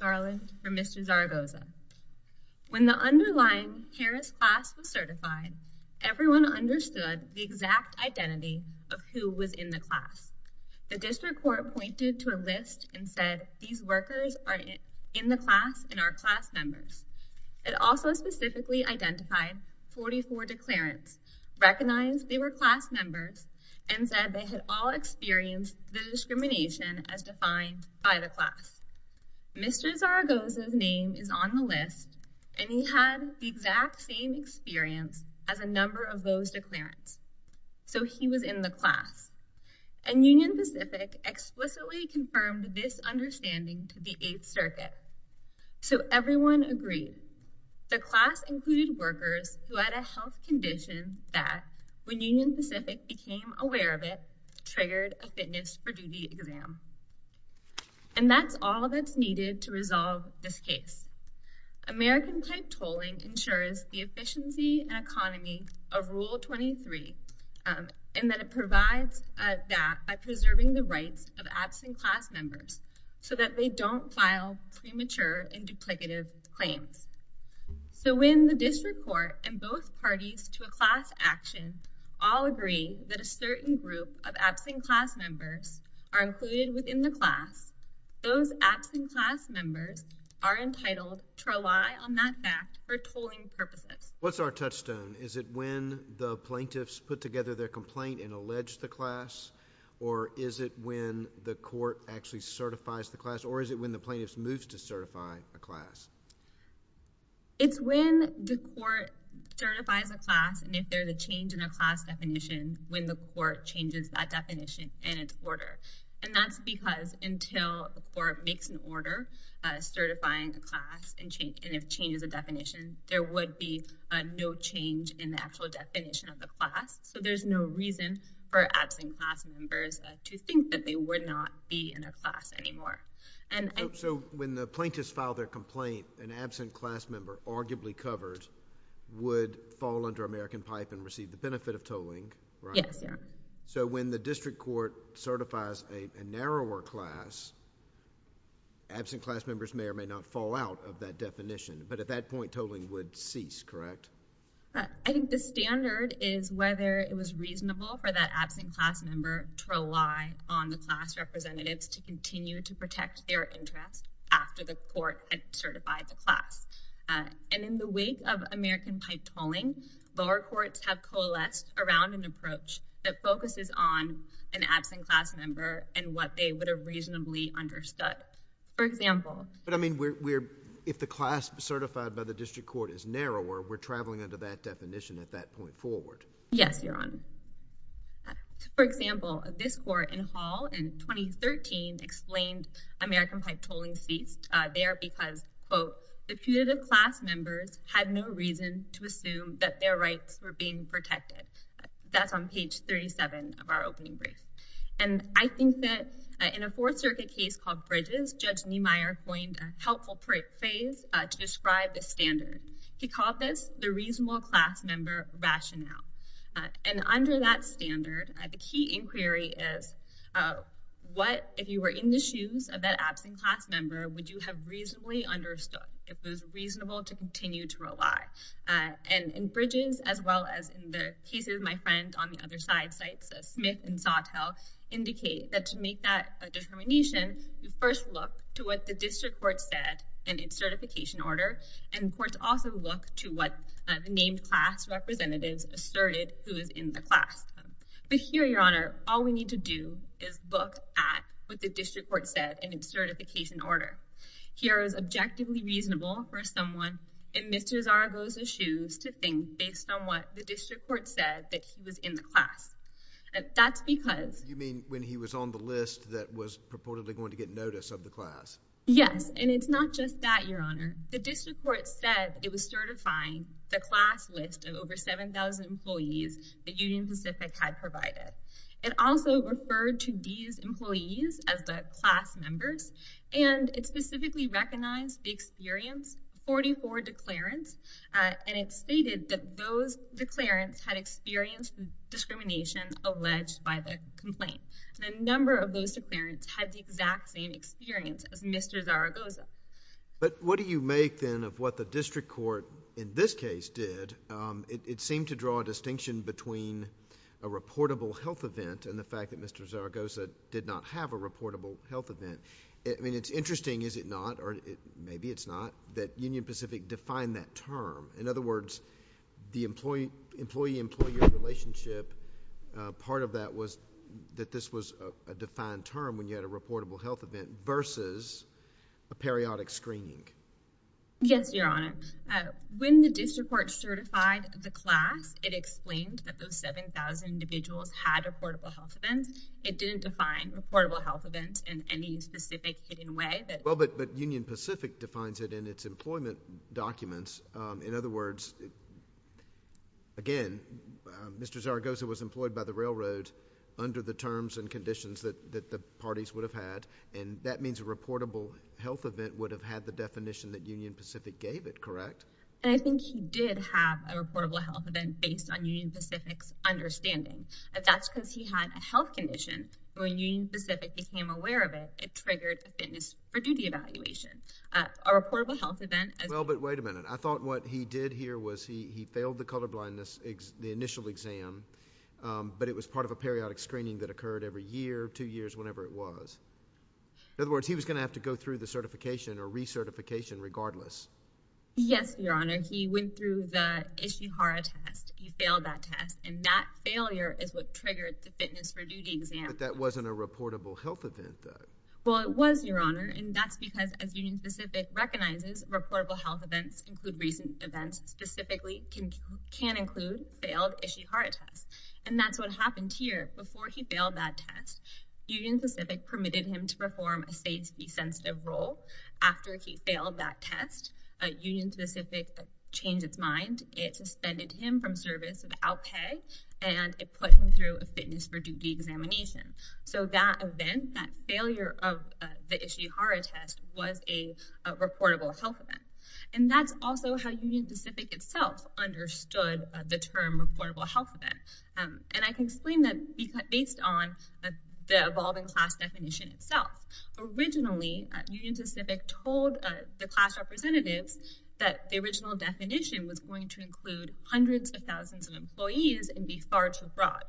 Garland from Mr. Zaragoza. When the underlying Harris class was certified everyone understood the exact identity of who was in the class. The district court pointed to a list and said these workers are in the class and are class members. It also specifically identified 44 declarants, recognized they were class members, and said they had all experienced the discrimination as Mr. Zaragoza's name is on the list and he had the exact same experience as a number of those declarants. So he was in the class. And Union Pacific explicitly confirmed this understanding to the 8th Circuit. So everyone agreed. The class included workers who had a health condition that, when Union Pacific became aware of it, triggered a fitness for duty exam. And that's all that's needed to resolve this case. American-type tolling ensures the efficiency and economy of Rule 23 and that it provides that by preserving the rights of absent class members so that they don't file premature and duplicative claims. So when the district court and both parties to a class action all agree that a certain group of absent class members are included within the class, those absent class members are entitled to rely on that fact for tolling purposes. What's our touchstone? Is it when the plaintiffs put together their complaint and allege the class or is it when the court actually certifies the class or is it when the plaintiffs moves to certify a class? It's when the court certifies a class and if there's a change in a class definition when the court changes that order, certifying a class, and if change is a definition, there would be a no change in the actual definition of the class. So there's no reason for absent class members to think that they would not be in a class anymore. So when the plaintiffs file their complaint, an absent class member, arguably covered, would fall under American-type and receive the benefit of tolling. Yes. So when the district court certifies a narrower class, absent class members may or may not fall out of that definition, but at that point tolling would cease, correct? I think the standard is whether it was reasonable for that absent class member to rely on the class representatives to continue to protect their interest after the court had certified the class. And in the wake of American-type tolling, lower courts have coalesced around an approach that focuses on an absent class member and what they would have reasonably understood. For example... But I mean, if the class certified by the district court is narrower, we're traveling under that definition at that point forward. Yes, Your Honor. For example, this court in Hall in 2013 explained American-type tolling ceased. They are because, quote, a few of the class members had no reason to And I think that in a Fourth Circuit case called Bridges, Judge Niemeyer coined a helpful phrase to describe the standard. He called this the reasonable class member rationale. And under that standard, the key inquiry is what, if you were in the shoes of that absent class member, would you have reasonably understood? If it was reasonable to continue to rely? And in the cases, my friends on the other side sites, Smith and Sawtelle, indicate that to make that determination, you first look to what the district court said in its certification order. And courts also look to what the named class representatives asserted who is in the class. But here, Your Honor, all we need to do is look at what the district court said in its certification order. Here is objectively reasonable for someone in Mr. Zaragoza's shoes to think based on what the district court said that he was in the class. That's because. You mean when he was on the list that was purportedly going to get notice of the class? Yes. And it's not just that, Your Honor. The district court said it was certifying the class list of over 7,000 employees that Union Pacific had provided. It also referred to these employees as the class members. And it specifically recognized the experienced 44 declarants. And it stated that those declarants had experienced discrimination alleged by the complaint. And a number of those declarants had the exact same experience as Mr. Zaragoza. But what do you make then of what the district court in this case did? It seemed to draw a distinction between a reportable health event and the fact that Mr. Zaragoza did not have a reportable health event. I mean it's interesting, is it not, or maybe it's not, that Union Pacific defined that term. In other words, the employee-employee-employee relationship, part of that was that this was a defined term when you had a reportable health event versus a periodic screening. Yes, Your Honor. When the district court certified the class, it explained that those 7,000 individuals had a reportable health event. It didn't define a reportable health event in any specific hidden way. Well, but Union Pacific defines it in its employment documents. In other words, again, Mr. Zaragoza was employed by the railroad under the terms and conditions that the parties would have had. And that means a reportable health event would have had the definition that Union Pacific gave it, correct? And I think he did have a reportable health event based on Union Pacific's understanding. That's because he had a health condition. When Union Pacific became aware of it, it triggered a fitness for duty evaluation. A part of it here was he failed the colorblindness, the initial exam, but it was part of a periodic screening that occurred every year, two years, whenever it was. In other words, he was going to have to go through the certification or recertification regardless. Yes, Your Honor. He went through the Ishihara test. He failed that test, and that failure is what triggered the fitness for duty exam. But that wasn't a reportable health event, though. Well, it was, Your Honor, and that's because, as Union Pacific recognizes, reportable health events include recent events specifically can include failed Ishihara tests. And that's what happened here. Before he failed that test, Union Pacific permitted him to perform a state's B-sensitive role. After he failed that test, Union Pacific changed its mind. It suspended him from service without pay, and it put him through a fitness for duty examination. So that event, that failure of the Ishihara test, was a reportable health event. And that's also how Union Pacific itself understood the term reportable health event. And I can explain that based on the evolving class definition itself. Originally, Union Pacific told the class representatives that the original definition was going to include hundreds of thousands of employees and be far too broad.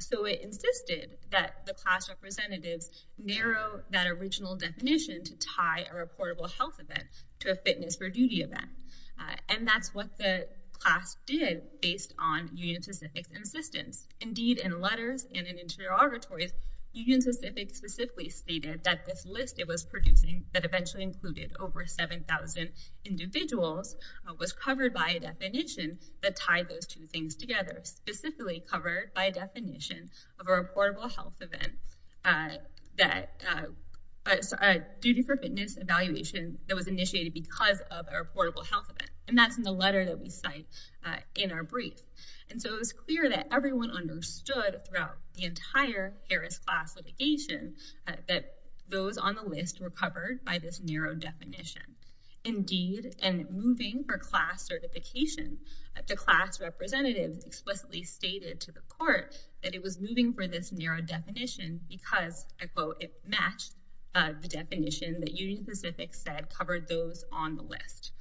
So it insisted that the class representatives narrow that original definition to tie a reportable health event to a fitness for duty event. And that's what the class did based on Union Pacific's insistence. Indeed, in letters and in interrogatories, Union Pacific specifically stated that this list it was producing that eventually included over 7,000 individuals was covered by a definition that tied those two things together, specifically covered by a definition of a reportable health event that a duty for fitness evaluation that was initiated because of a reportable health event. And that's in the letter that we cite in our brief. And so it was clear that everyone understood throughout the entire Harris class litigation that those on the list were covered by this narrow definition. Indeed, and moving for class certification, the class representatives explicitly stated to the court that it was moving for this narrow definition because I quote, it matched the definition that Union Pacific said covered those on the list.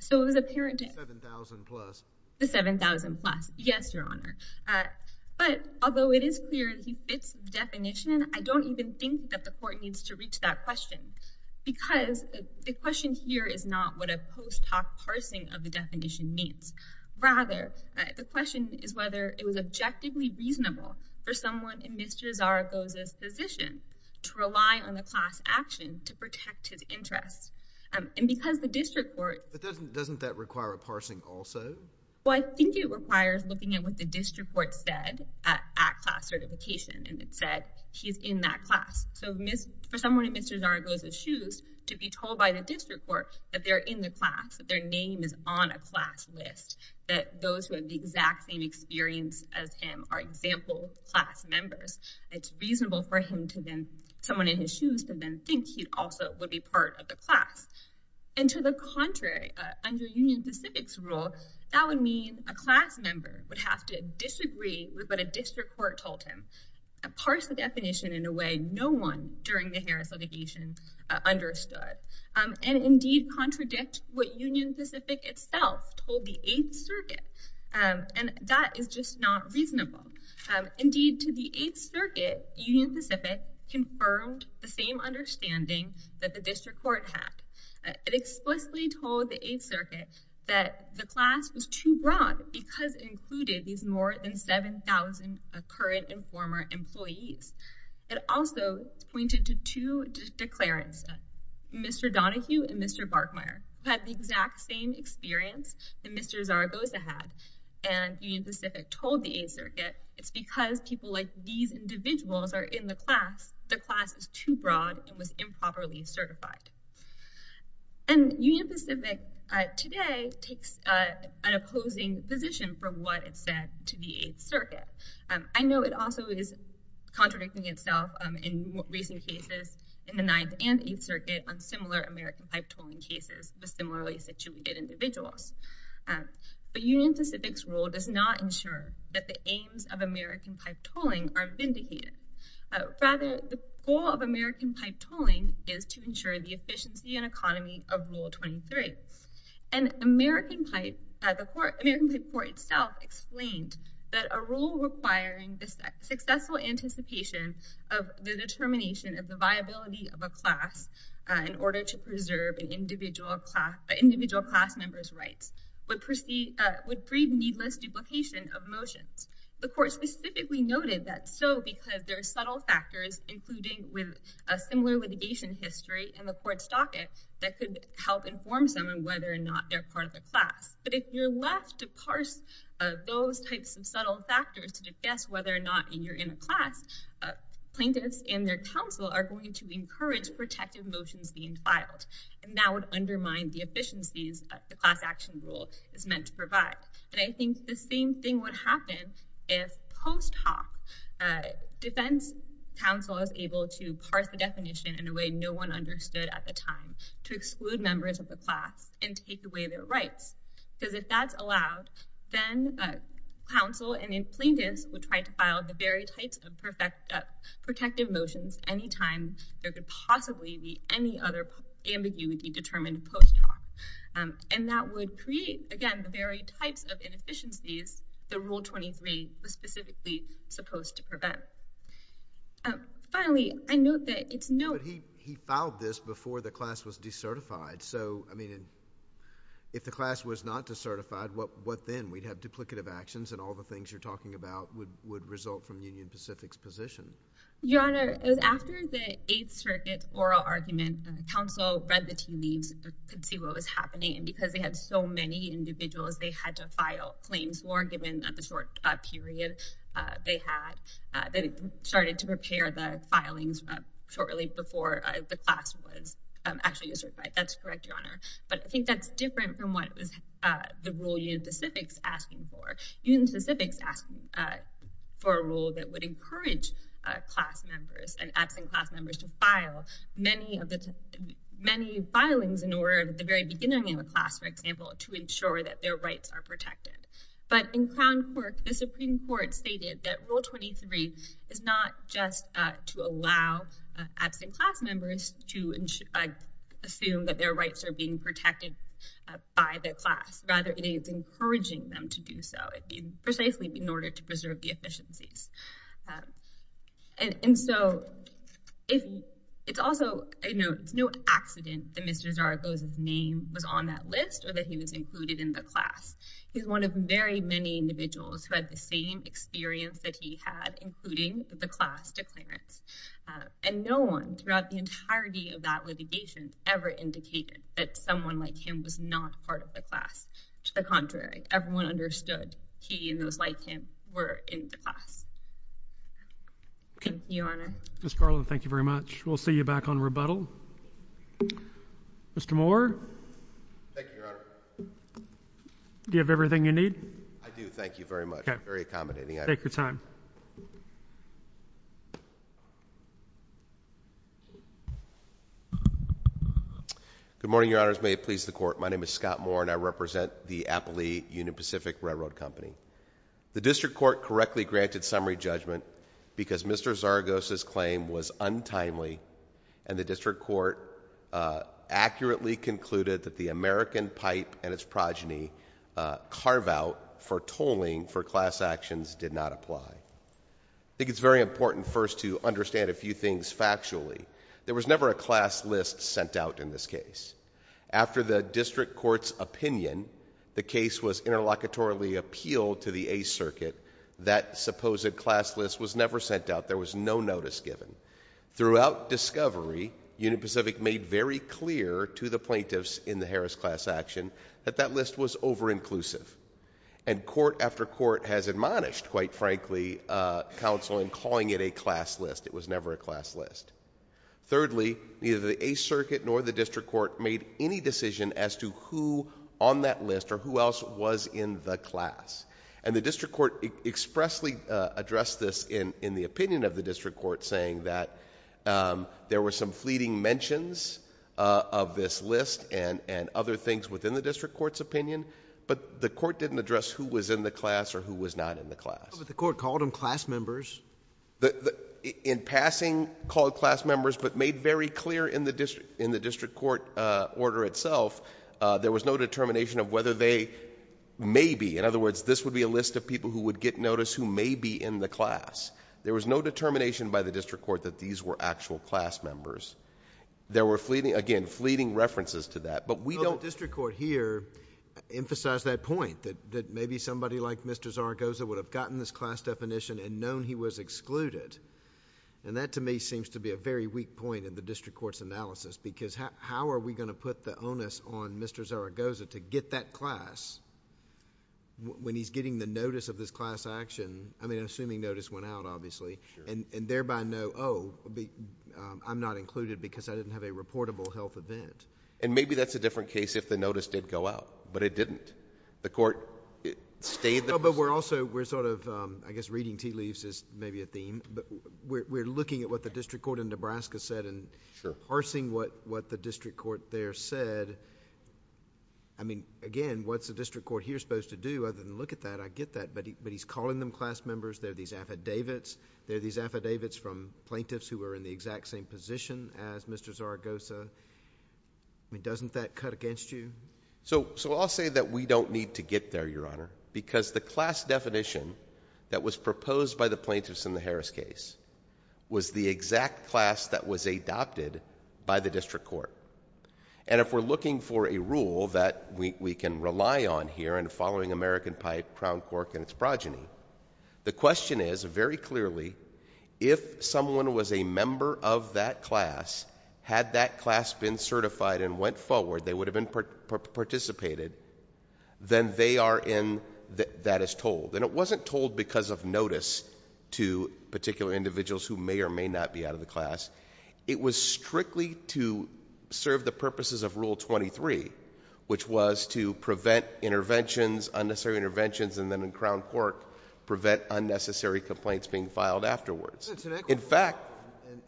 So it was apparent to 7000 plus the 7000 plus. Yes, Your Honor. But although it is clear he fits the definition, I don't even think that the court needs to reach that question because the question here is not what a post hoc parsing of definition means. Rather, the question is whether it was objectively reasonable for someone in Mr Zaragoza's position to rely on the class action to protect his interests. And because the district court doesn't doesn't that require a parsing also? Well, I think it requires looking at what the district court said at class certification, and it said he's in that class. So for someone in Mr Zaragoza's shoes to be told by the district court that they're in the class, that their name is on a class list, that those who have the exact same experience as him are example class members, it's reasonable for him to then someone in his shoes could then think he also would be part of the class. And to the contrary, under Union Pacific's rule, that would mean a class member would have to disagree with what a district court told him. A parse the definition in a way no one during the Harris litigation understood. And indeed, contradict what Union Pacific itself told the Eighth Circuit. Um, and that is just not reasonable. Indeed, to the Eighth Circuit, Union Pacific confirmed the same understanding that the district court had. It explicitly told the Eighth Circuit that the class was too broad because included these more than 7000 current and former employees. It also pointed to two declarants. Mr Donahue and Mr Barkmire had the exact same experience that Mr Zaragoza had, and Union Pacific told the Eighth Circuit it's because people like these individuals are in the class. The class is too broad and was improperly certified. And Union Pacific today takes an opposing position from what it said to the Eighth Circuit. I know it also is contradicting itself in recent cases, in the Ninth and Eighth Circuit on similar American pipe tolling cases with similarly situated individuals. But Union Pacific's rule does not ensure that the aims of American pipe tolling are vindicated. Rather, the goal of American pipe tolling is to ensure the efficiency and economy of Rule 23. And American pipe at the court, American pipe court itself explained that a rule requiring this successful anticipation of the determination of the viability of a class in order to preserve an individual class individual class member's rights would proceed would breed needless duplication of motions. The court specifically noted that so because there are subtle factors, including with a similar litigation history in the court's docket that could help inform someone whether or not they're part of the class. But if you're left to parse those types of subtle factors to guess whether or not you're in a class, plaintiffs and their counsel are going to encourage protective motions being filed. And that would undermine the efficiencies of the class action rule is meant to provide. And I think the same thing would happen if post hoc defense counsel is able to parse the definition in a way no one understood at the time to exclude members of the class and take away their rights. Because if that's allowed, then counsel and plaintiffs would try to file the very types of perfect protective motions anytime there could possibly be any other ambiguity determined post hoc. And that would create again, the very types of inefficiencies the Rule 23 was specifically supposed to prevent. Finally, I note that it's no he he if the class was not to certified what what then we'd have duplicative actions and all the things you're talking about would would result from Union Pacific's position. Your Honor, after the Eighth Circuit oral argument, counsel read the team needs could see what was happening. And because they had so many individuals, they had to file claims were given at the short period they had that started to prepare the filings shortly before the class was actually certified. That's correct, Your Honor. But I think that's different from what it was. The rule you Pacific's asking for Union Pacific's asking for a rule that would encourage class members and absent class members to file many of the many filings in order at the very beginning of the class, for example, to ensure that their rights are protected. But in Crown Court, the Supreme Court stated that Rule 23 is not just to allow absent class members to assume that their rights are being protected by the class. Rather, it is encouraging them to do so precisely in order to preserve the efficiencies. And so it's also, you know, it's no accident that Mr Zaragoza's name was on that list or that he was included in the class. He's one of very many individuals who had the same experience that he had, including the class declarants. And no one throughout the entirety of that litigation ever indicated that someone like him was not part of the class. To the contrary, everyone understood he and those like him were in the class. Thank you, Your Honor. Scarlett, thank you very much. We'll see you back on rebuttal. Mr Moore. Thank you, Your Honor. Do you have everything you need? I do. Thank you very much. Very accommodating. Take your time. Good morning, Your Honors. May it please the court. My name is Scott Moore, and I represent the Applee Union Pacific Railroad Company. The District Court correctly granted summary judgment because Mr Zaragoza's testimony was untimely, and the District Court accurately concluded that the American pipe and its progeny carve out for tolling for class actions did not apply. I think it's very important first to understand a few things factually. There was never a class list sent out in this case. After the District Court's opinion, the case was interlocutorily appealed to the Ace Circuit, that supposed class list was never sent out. There was no notice given. Throughout discovery, Union Pacific made very clear to the plaintiffs in the Harris class action that that list was over-inclusive. And court after court has admonished, quite frankly, counsel in calling it a class list. It was never a class list. Thirdly, neither the Ace Circuit nor the District Court made any decision as to who on that list or who else was in the class. And the District Court expressly addressed this in the opinion of the District Court saying that there were some fleeting mentions of this list and other things within the District Court's opinion, but the Court didn't address who was in the class or who was not in the class. But the Court called them class members. In passing, called class members, but made very clear in the District Court order itself, there was no determination of whether they may be. In other words, this would be a list of people who would get notice who may be in the class. There was no determination by the District Court that these were actual class members. There were, again, fleeting references to that, but we don't... The District Court here emphasized that point, that maybe somebody like Mr. Zaragoza would have gotten this class definition and known he was excluded. That to me seems to be a very weak point in the District Court's analysis because how are we going to put the onus on Mr. Zaragoza to get that class when he's getting the notice of this class action? I mean, assuming notice went out, obviously, and thereby know, oh, I'm not included because I didn't have a reportable health event. Maybe that's a different case if the notice did go out, but it didn't. The Court stayed... But we're also, we're sort of, I guess reading tea leaves is maybe a theme. We're looking at what the District Court in Nebraska said and parsing what the District Court there said. I mean, again, what's the District Court here supposed to do other than look at that? I get that, but he's calling them class members. There are these affidavits. There are these affidavits from plaintiffs who are in the exact same position as Mr. Zaragoza. I mean, doesn't that cut against you? So, I'll say that we don't need to get there, Your Honor, because the class definition that was proposed by the plaintiffs in the Harris case was the And if we're looking for a rule that we can rely on here and following American Pipe, Crown Cork, and its progeny, the question is, very clearly, if someone was a member of that class, had that class been certified and went forward, they would have been participated, then they are in... that is told. And it wasn't told because of notice to particular individuals who may or may not be out of the class. It was strictly to serve the purposes of Rule 23, which was to prevent interventions, unnecessary interventions, and then in Crown Cork, prevent unnecessary complaints being filed afterwards. That's an excellent point. In fact...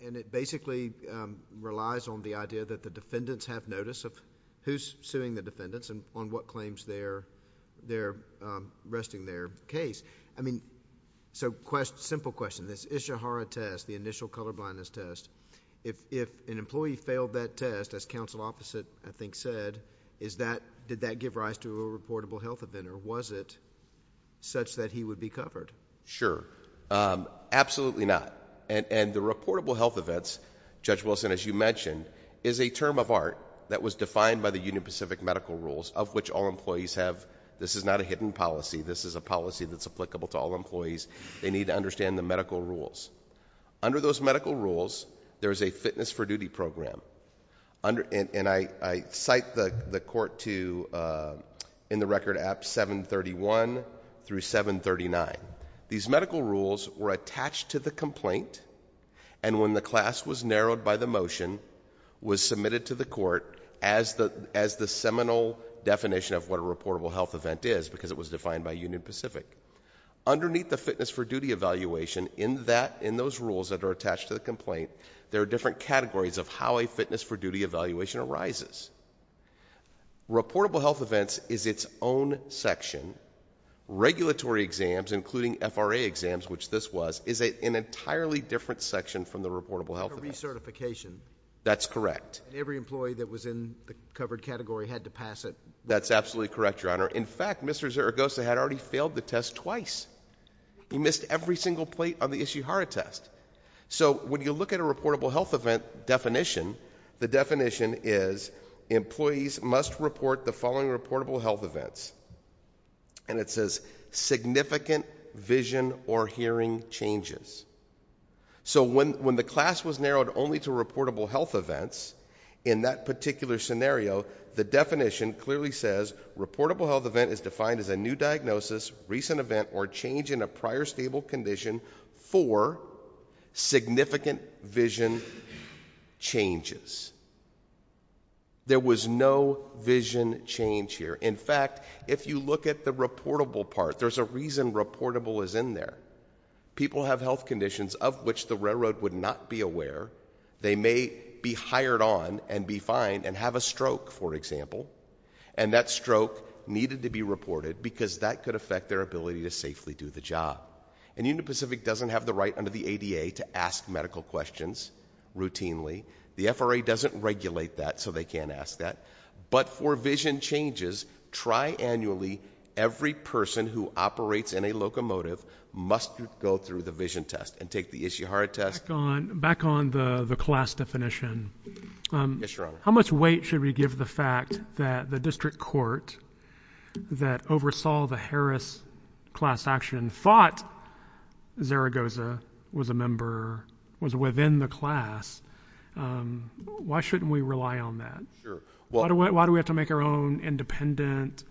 And it basically relies on the idea that the defendants have notice of who's suing the defendants and on what claims they're arresting their case. I mean, So, simple question. This Ishihara test, the initial colorblindness test, if an employee failed that test, as counsel opposite, I think, said, did that give rise to a reportable health event or was it such that he would be covered? Sure. Absolutely not. And the reportable health events, Judge Wilson, as you mentioned, is a term of art that was defined by the Union Pacific Medical Rules of which all employees have... this is not a hidden policy. This is a They need to understand the medical rules. Under those medical rules, there is a fitness for duty program. And I cite the court to, in the record, apps 731 through 739. These medical rules were attached to the complaint and when the class was narrowed by the motion, was submitted to the court as the seminal definition of what a reportable health event is because it was evaluation. In that, in those rules that are attached to the complaint, there are different categories of how a fitness for duty evaluation arises. Reportable health events is its own section. Regulatory exams, including FRA exams, which this was, is an entirely different section from the reportable health event. A recertification. That's correct. Every employee that was in the covered category had to pass it. That's absolutely correct, Your Honor. In fact, Mr. Zaragoza had already failed the test twice. He missed every single plate on the Ishihara test. So when you look at a reportable health event definition, the definition is, employees must report the following reportable health events. And it says, significant vision or hearing changes. So when, when the class was narrowed only to reportable health events, in that particular scenario, the new diagnosis, recent event, or change in a prior stable condition for significant vision changes. There was no vision change here. In fact, if you look at the reportable part, there's a reason reportable is in there. People have health conditions of which the railroad would not be aware. They may be hired on and be fined and have a stroke, for example, and that stroke needed to be reported, because that could affect their ability to safely do the job. And Union Pacific doesn't have the right under the ADA to ask medical questions routinely. The FRA doesn't regulate that, so they can't ask that. But for vision changes, tri-annually, every person who operates in a locomotive must go through the vision test and take the Ishihara test... Back on, back on the, the class definition. Yes, Your Honor. How much weight should we give the fact that the district court that oversaw the Harris class action thought Zaragoza was a member, was within the class? Why shouldn't we rely on that? Why do we have to make our own independent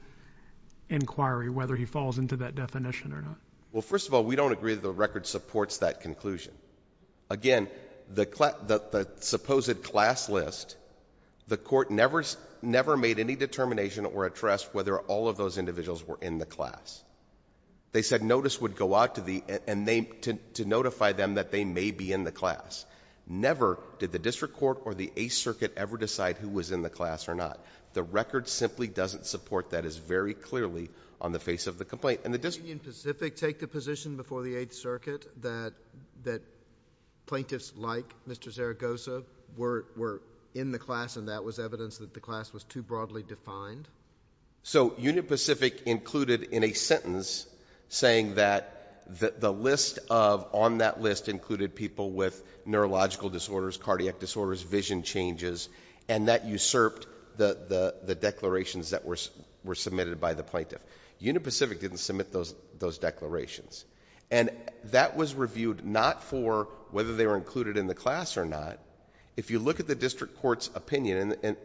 inquiry whether he falls into that definition or not? Well, first of all, we don't agree that the record supports that conclusion. Again, the supposed class list, the court never, never made any determination or addressed whether all of those individuals were in the class. They said notice would go out to the, and they, to notify them that they may be in the class. Never did the district court or the Eighth Circuit ever decide who was in the class or not. The record simply doesn't support that. It's very clearly on the face of the complaint. And the district... Did Union Pacific take the position before the Eighth Circuit that, that Mr. Zaragoza were, were in the class and that was evidence that the class was too broadly defined? So Union Pacific included in a sentence saying that the, the list of, on that list included people with neurological disorders, cardiac disorders, vision changes, and that usurped the, the, the declarations that were, were submitted by the plaintiff. Union Pacific didn't submit those, those declarations. And that was reviewed not for whether they were included in the class or not. If you look at the district court's opinion in,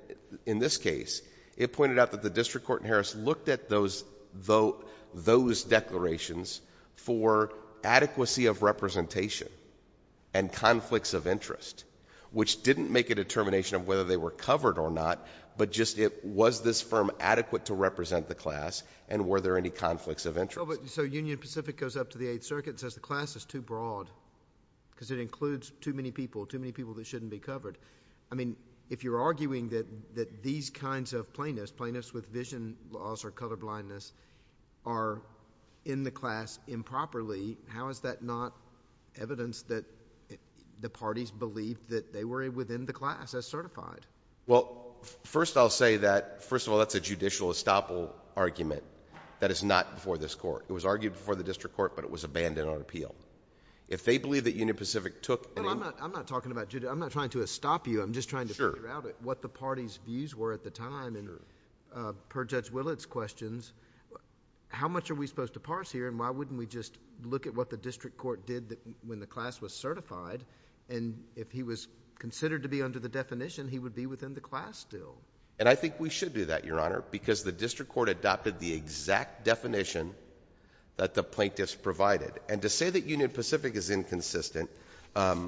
in this case, it pointed out that the district court in Harris looked at those, those, those declarations for adequacy of representation and conflicts of interest, which didn't make a determination of whether they were covered or not, but just it, was this firm adequate to represent the class and were there any conflicts of interest? So, but, so Union Pacific goes up to the Eighth Circuit and says the class is too broad because it includes too many people, too many people that shouldn't be covered. I mean, if you're arguing that, that these kinds of plaintiffs, plaintiffs with vision loss or colorblindness are in the class improperly, how is that not evidence that the parties believed that they were within the class as certified? Well, first I'll say that, first of all, that's a judicial estoppel argument. That is not before this court. It was argued before the district court, but it was abandoned on appeal. If they believe that Union Pacific took... Well, I'm not, I'm not talking about, I'm not trying to estop you, I'm just trying to figure out what the party's views were at the time and per Judge Willett's questions, how much are we supposed to parse here and why wouldn't we just look at what the district court did when the class was certified and if he was considered to be under the definition, he would be within the class still? And I think we should do that, Your Honor, because the district court adopted the exact definition that the plaintiffs provided. And to say that Union Pacific is inconsistent, I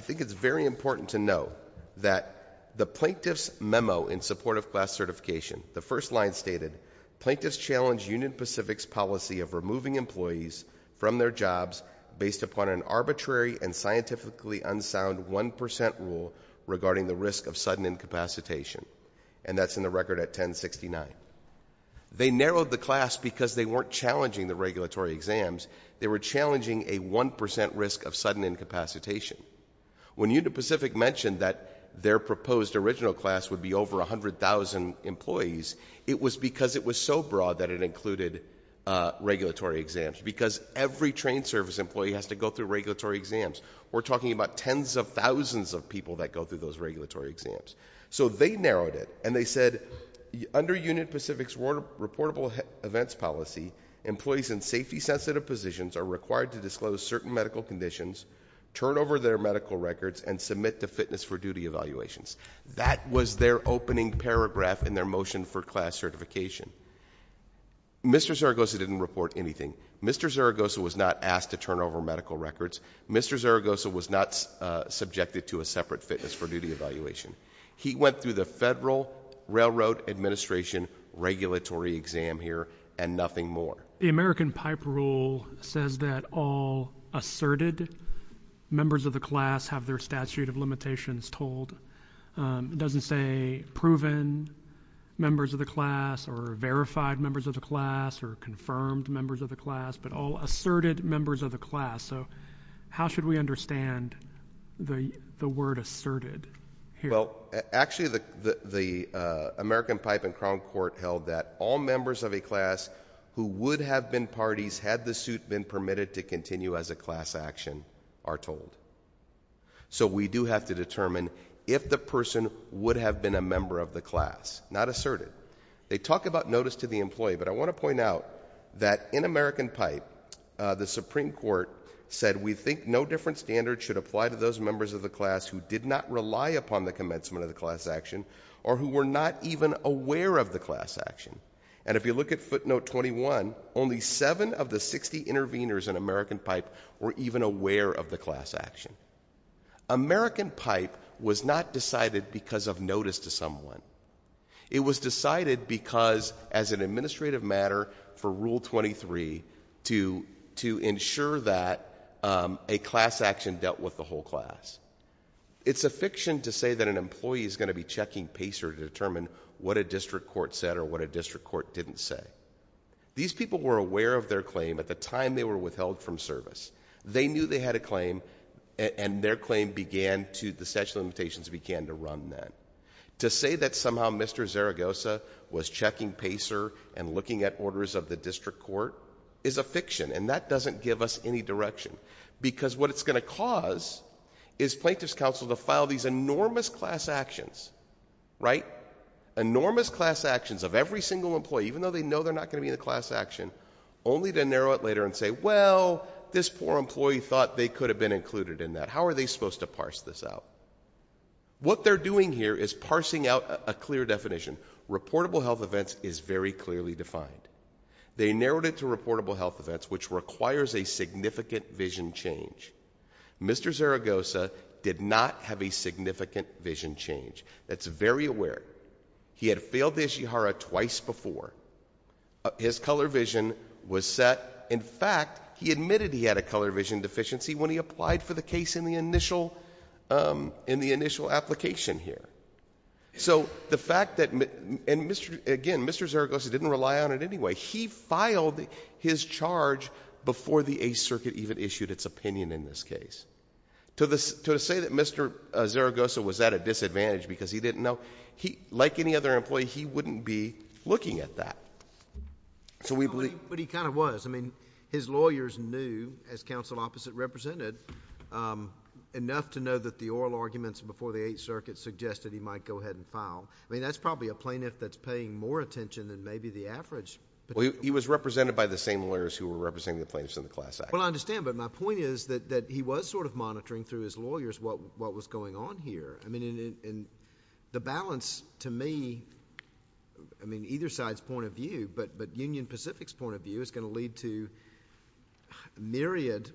think it's very important to know that the plaintiff's memo in support of class certification, the first line stated, plaintiffs challenged Union Pacific's policy of removing employees from their jobs based upon an arbitrary and scientifically unsound 1% rule regarding the risk of sudden incapacitation. And that's in the record at 1069. They narrowed the class because they weren't challenging the regulatory exams, they were challenging a 1% risk of sudden incapacitation. When Union Pacific mentioned that their proposed original class would be over 100,000 employees, it was because it was so broad that it included regulatory exams, because every train service employee has to go through regulatory exams. We're talking about tens of thousands of people that go through those regulatory exams. So they narrowed it, and they said, under Union Pacific's reportable events policy, employees in safety-sensitive positions are required to disclose certain medical conditions, turn over their medical records, and submit to fitness for duty evaluations. That was their opening paragraph in their motion for class certification. Mr. Zaragoza didn't report anything. Mr. Zaragoza was not asked to turn over medical records. Mr. Zaragoza was not subjected to a separate fitness for duty evaluation. He went through the Federal Railroad Administration regulatory exam here, and nothing more. The American Pipe Rule says that all asserted members of the class have their statute of limitations told. It doesn't say proven members of the class, or verified members of the class, or confirmed members of the class, but all asserted members of the class. So how should we understand the word asserted? Well, actually the American Pipe and Crown Court held that all members of a class who would have been parties, had the suit been permitted to continue as a class action, are told. So we do have to determine if the person would have been a member of the class. Not asserted. They talk about notice to the employee, but I think the Supreme Court said we think no different standard should apply to those members of the class who did not rely upon the commencement of the class action, or who were not even aware of the class action. And if you look at footnote 21, only seven of the 60 intervenors in American Pipe were even aware of the class action. American Pipe was not decided because of notice to someone. It was decided because, as an administrative matter for Rule 23, to ensure that a class action dealt with the whole class. It's a fiction to say that an employee is going to be checking PACER to determine what a district court said, or what a district court didn't say. These people were aware of their claim at the time they were withheld from service. They knew they had a claim, and their claim began to, the statute of limitations began to run then. To say that somehow Mr. Zaragoza was checking PACER and looking at orders of the district court is a fiction, and that doesn't give us any direction. Because what it's going to cause is plaintiff's counsel to file these enormous class actions, right? Enormous class actions of every single employee, even though they know they're not going to be in the class action, only to narrow it later and say, well, this poor employee thought they could have been included in that. How are they supposed to parse this out? What they're doing here is parsing out a clear definition. Reportable health events is very clearly defined. They narrowed it to reportable health events, which requires a significant vision change. Mr. Zaragoza did not have a significant vision change. That's very aware. He had failed the Ishihara twice before. His color vision was set. In fact, he admitted he had a color vision deficiency when he applied for the case in the initial application here. The fact that... Again, Mr. Zaragoza didn't rely on it anyway. He filed his charge before the Eighth Circuit even issued its opinion in this case. To say that Mr. Zaragoza was at a disadvantage because he didn't know, like any other employee, he wouldn't be looking at that. We believe... But he kind of was. I mean, his lawyers knew, as counsel opposite represented, enough to know that the oral arguments before the Eighth Circuit suggested he might go ahead and file. I mean, that's probably a plaintiff that's paying more attention than maybe the average... Well, he was represented by the same lawyers who were representing the plaintiffs in the class action. Well, I understand, but my point is that he was sort of monitoring through his lawyers what was going on here. I mean, the balance to me, I mean, either each side's point of view, but Union Pacific's point of view is going to lead to myriad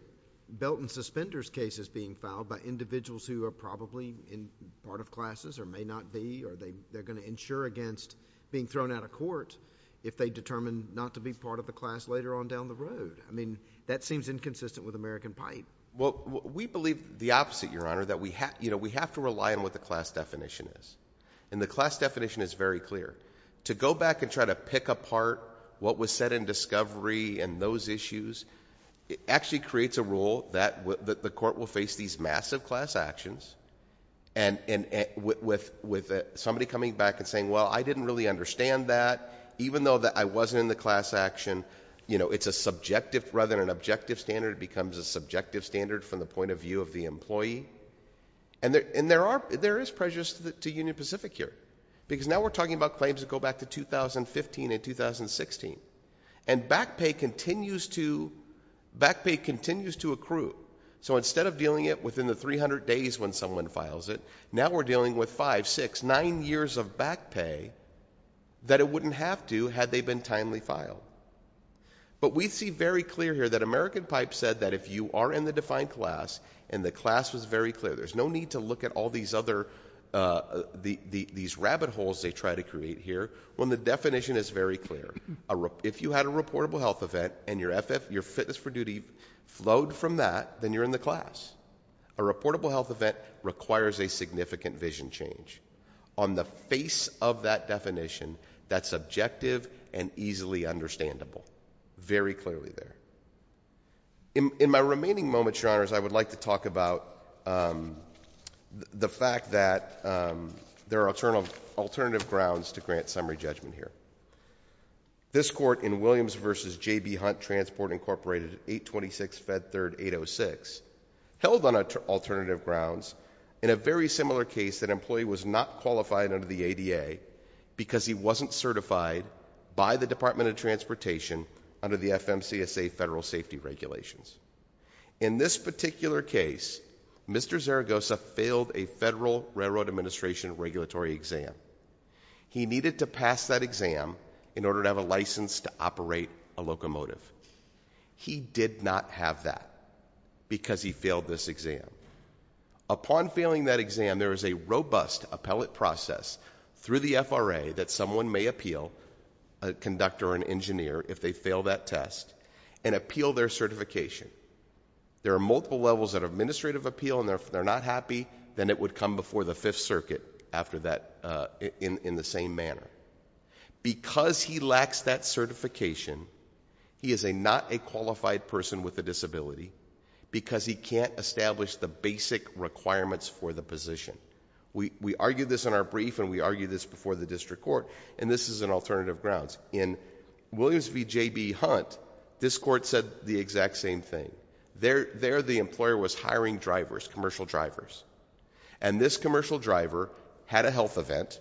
belt and suspenders cases being filed by individuals who are probably in part of classes or may not be, or they're going to insure against being thrown out of court if they determine not to be part of the class later on down the road. I mean, that seems inconsistent with American pipe. We believe the opposite, Your Honor, that we have to rely on what the class definition is. The class definition is very clear. To go back and try to pick apart what was said in discovery and those issues, it actually creates a rule that the court will face these massive class actions and with somebody coming back and saying, well, I didn't really understand that, even though I wasn't in the class action. It's a subjective, rather than an objective standard, it becomes a subjective standard from the point of view of the employee. And there are, there is pressures to Union Pacific here, because now we're talking about claims that go back to 2015 and 2016. And back pay continues to, back pay continues to accrue. So instead of dealing it within the 300 days when someone files it, now we're dealing with five, six, nine years of back pay that it wouldn't have to had they been timely filed. But we see very clear here that American Pipe said that if you are in the defined class and the class was very clear, there's no need to look at all these other, these rabbit holes they try to create here, when the definition is very clear. If you had a reportable health event and your FF, your fitness for duty flowed from that, then you're in the class. A reportable health event requires a significant vision change. On the face of that definition, that's objective and easily understandable. Very clearly there. In my remaining moments, Your Honors, I would like to talk about the fact that there are alternative grounds to grant summary judgment here. This court in Williams v. J.B. Hunt Transport Incorporated, 826 Fed Third 806, held on alternative grounds in a very similar case that employee was not qualified under the ADA because he wasn't certified by the Department of Transportation under the FMCSA federal safety regulations. In this particular case, Mr. Zaragoza failed a federal railroad administration regulatory exam. He needed to pass that exam in order to have a license to operate a locomotive. He did not have that because he failed this exam. Upon failing that exam, there is a robust appellate process through the FRA that someone may appeal, a conductor or an engineer, if they fail that test and appeal their certification. There are multiple levels of administrative appeal and if they're not happy, then it would come before the Fifth Circuit in the same manner. Because he lacks that certification, he is a not a qualified person with a disability because he can't establish the basic requirements for the position. We argued this in our brief and we argued this before the district court and this is an alternative grounds. In Williams v. J.B. Hunt, this court said the exact same thing. There, the employer was hiring drivers, commercial drivers. This commercial driver had a health event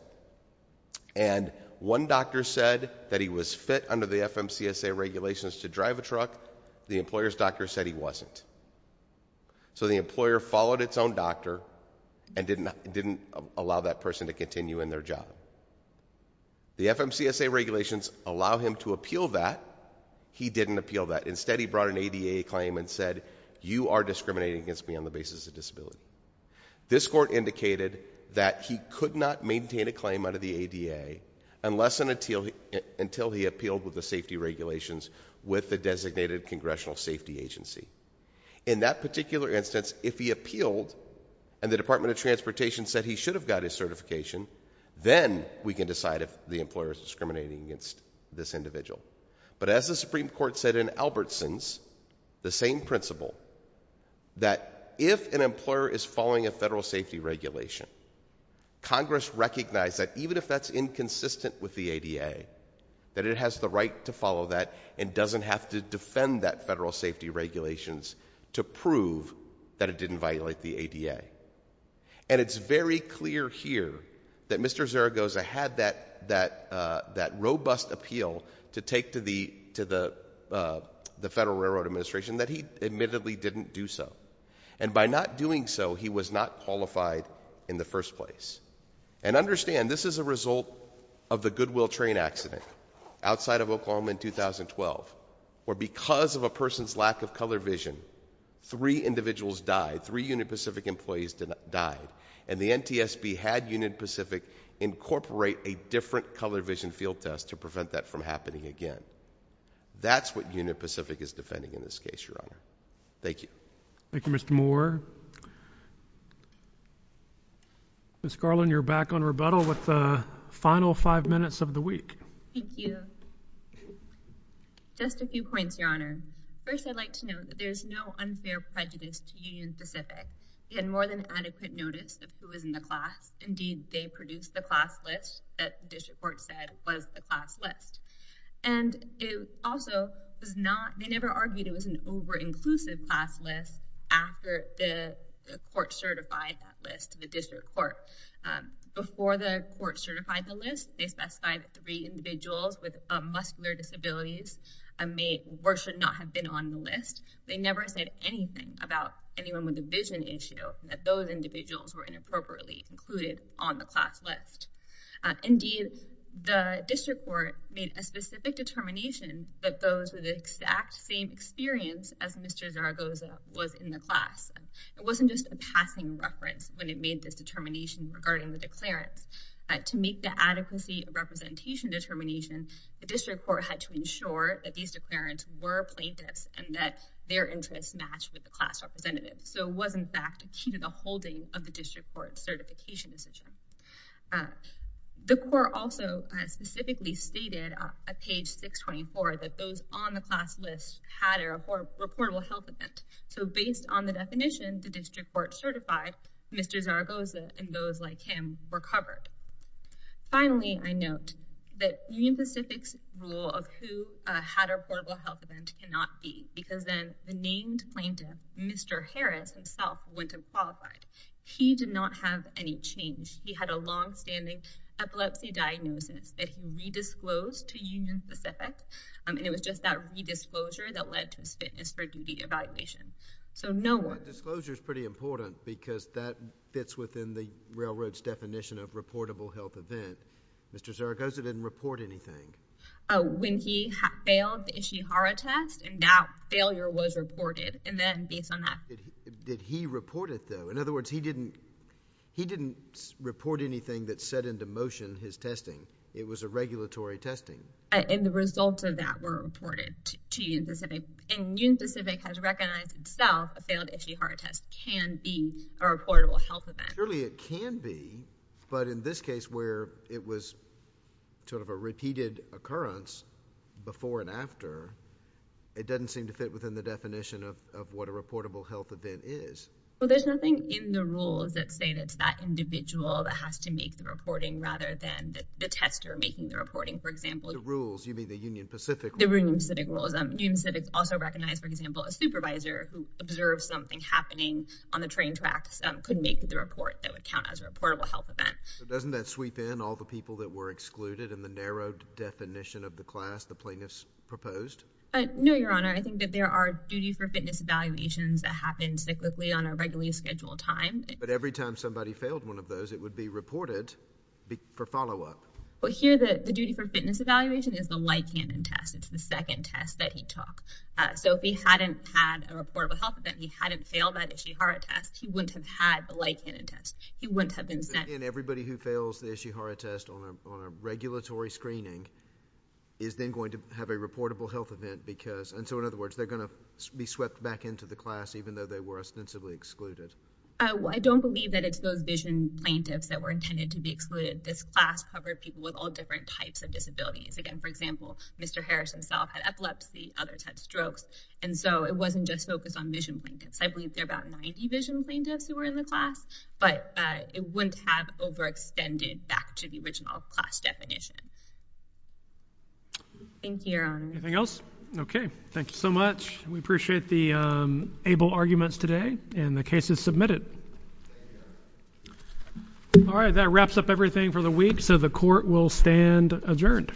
and one doctor said that he was fit under the FMCSA regulations to drive a truck. The employer's doctor said he wasn't. The employer followed its own The FMCSA regulations allow him to appeal that. He didn't appeal that. Instead, he brought an ADA claim and said, you are discriminating against me on the basis of disability. This court indicated that he could not maintain a claim under the ADA unless and until he appealed with the safety regulations with the designated Congressional Safety Agency. In that particular instance, if he appealed and the Department of Transportation said he should have got his certification, then we can decide if the employer is discriminating against this individual. But as the Supreme Court said in Albertson's, the same principle that if an employer is following a federal safety regulation, Congress recognized that even if that's inconsistent with the ADA, that it has the right to follow that and doesn't have to defend that federal safety regulations to prove that it didn't violate the ADA. And it's very clear here that Mr. Zaragoza had that that that robust appeal to take to the to the the Federal Railroad Administration that he admittedly didn't do so. And by not doing so, he was not qualified in the first place. And understand, this is a result of the Goodwill train accident outside of Oklahoma in 2012, where because of a person's lack of color vision, three individuals died. Three Union Pacific employees died. And the NTSB had Union Pacific incorporate a different color vision field test to prevent that from happening again. That's what Union Pacific is defending in this case, Your Honor. Thank you. Thank you, Mr. Moore. Ms. Garland, you're back on rebuttal with the final five minutes of the week. Thank you. Just a few points, Your Honor. First, I'd like to note that there's no unfair prejudice to Union Pacific. They had more than adequate notice of who was in the class. Indeed, they produced the class list that the District Court said was the class list. And it also was not, they never argued it was an over-inclusive class list after the court certified that list to the District Court. Before the court certified the list, they specified three individuals with muscular disabilities may or should not have been on the list. They never said anything about anyone with a vision issue, that those individuals were inappropriately included on the class list. Indeed, the District Court made a specific determination that those with the exact same experience as Mr. Zaragoza was in the class. It wasn't just a passing reference when it made this inadequacy representation determination, the District Court had to ensure that these declarants were plaintiffs and that their interests matched with the class representative. So it was, in fact, a key to the holding of the District Court certification decision. The court also specifically stated on page 624 that those on the class list had a reportable health event. So based on the definition, the District Court certified Mr. Zaragoza and those like him were on the class list. Finally, I note that Union Pacific's rule of who had a reportable health event cannot be because then the named plaintiff, Mr. Harris himself, wouldn't have qualified. He did not have any change. He had a long-standing epilepsy diagnosis that he redisclosed to Union Pacific and it was just that redisclosure that led to his fitness for duty evaluation. So no one... The disclosure is pretty important because that fits within the railroad's definition of reportable health event. Mr. Zaragoza didn't report anything. When he failed the Ishihara test, and that failure was reported, and then based on that... Did he report it, though? In other words, he didn't report anything that set into motion his testing. It was a regulatory testing. And the results of that were reported to Union Pacific, and Union Pacific has recognized itself a reportable health event. Surely it can be, but in this case where it was sort of a repeated occurrence before and after, it doesn't seem to fit within the definition of what a reportable health event is. Well, there's nothing in the rules that say that it's that individual that has to make the reporting rather than the tester making the reporting, for example. The rules, you mean the Union Pacific... The Union Pacific rules. Union Pacific also recognized, for example, a that would count as a reportable health event. Doesn't that sweep in all the people that were excluded in the narrowed definition of the class the plaintiffs proposed? No, Your Honor. I think that there are duty for fitness evaluations that happen cyclically on a regularly scheduled time. But every time somebody failed one of those, it would be reported for follow-up. Well, here the duty for fitness evaluation is the light cannon test. It's the second test that he took. So, if he hadn't had a reportable health event, he hadn't failed that Ishihara test, he wouldn't have had the light cannon test. He wouldn't have been sent... And everybody who fails the Ishihara test on a regulatory screening is then going to have a reportable health event because... And so, in other words, they're going to be swept back into the class even though they were ostensibly excluded. I don't believe that it's those vision plaintiffs that were intended to be excluded. This class covered people with all different types of disabilities. Again, for example, Mr. Harris himself had epilepsy. Others had strokes. And so, it wasn't just focused on vision plaintiffs. I believe there were about 90 vision plaintiffs who were in the class, but it wouldn't have overextended back to the original class definition. Thank you, Your Honor. Anything else? Okay. Thank you so much. We appreciate the able arguments today. And the case is submitted. All right. That wraps up everything for the week. So, the court will stand adjourned.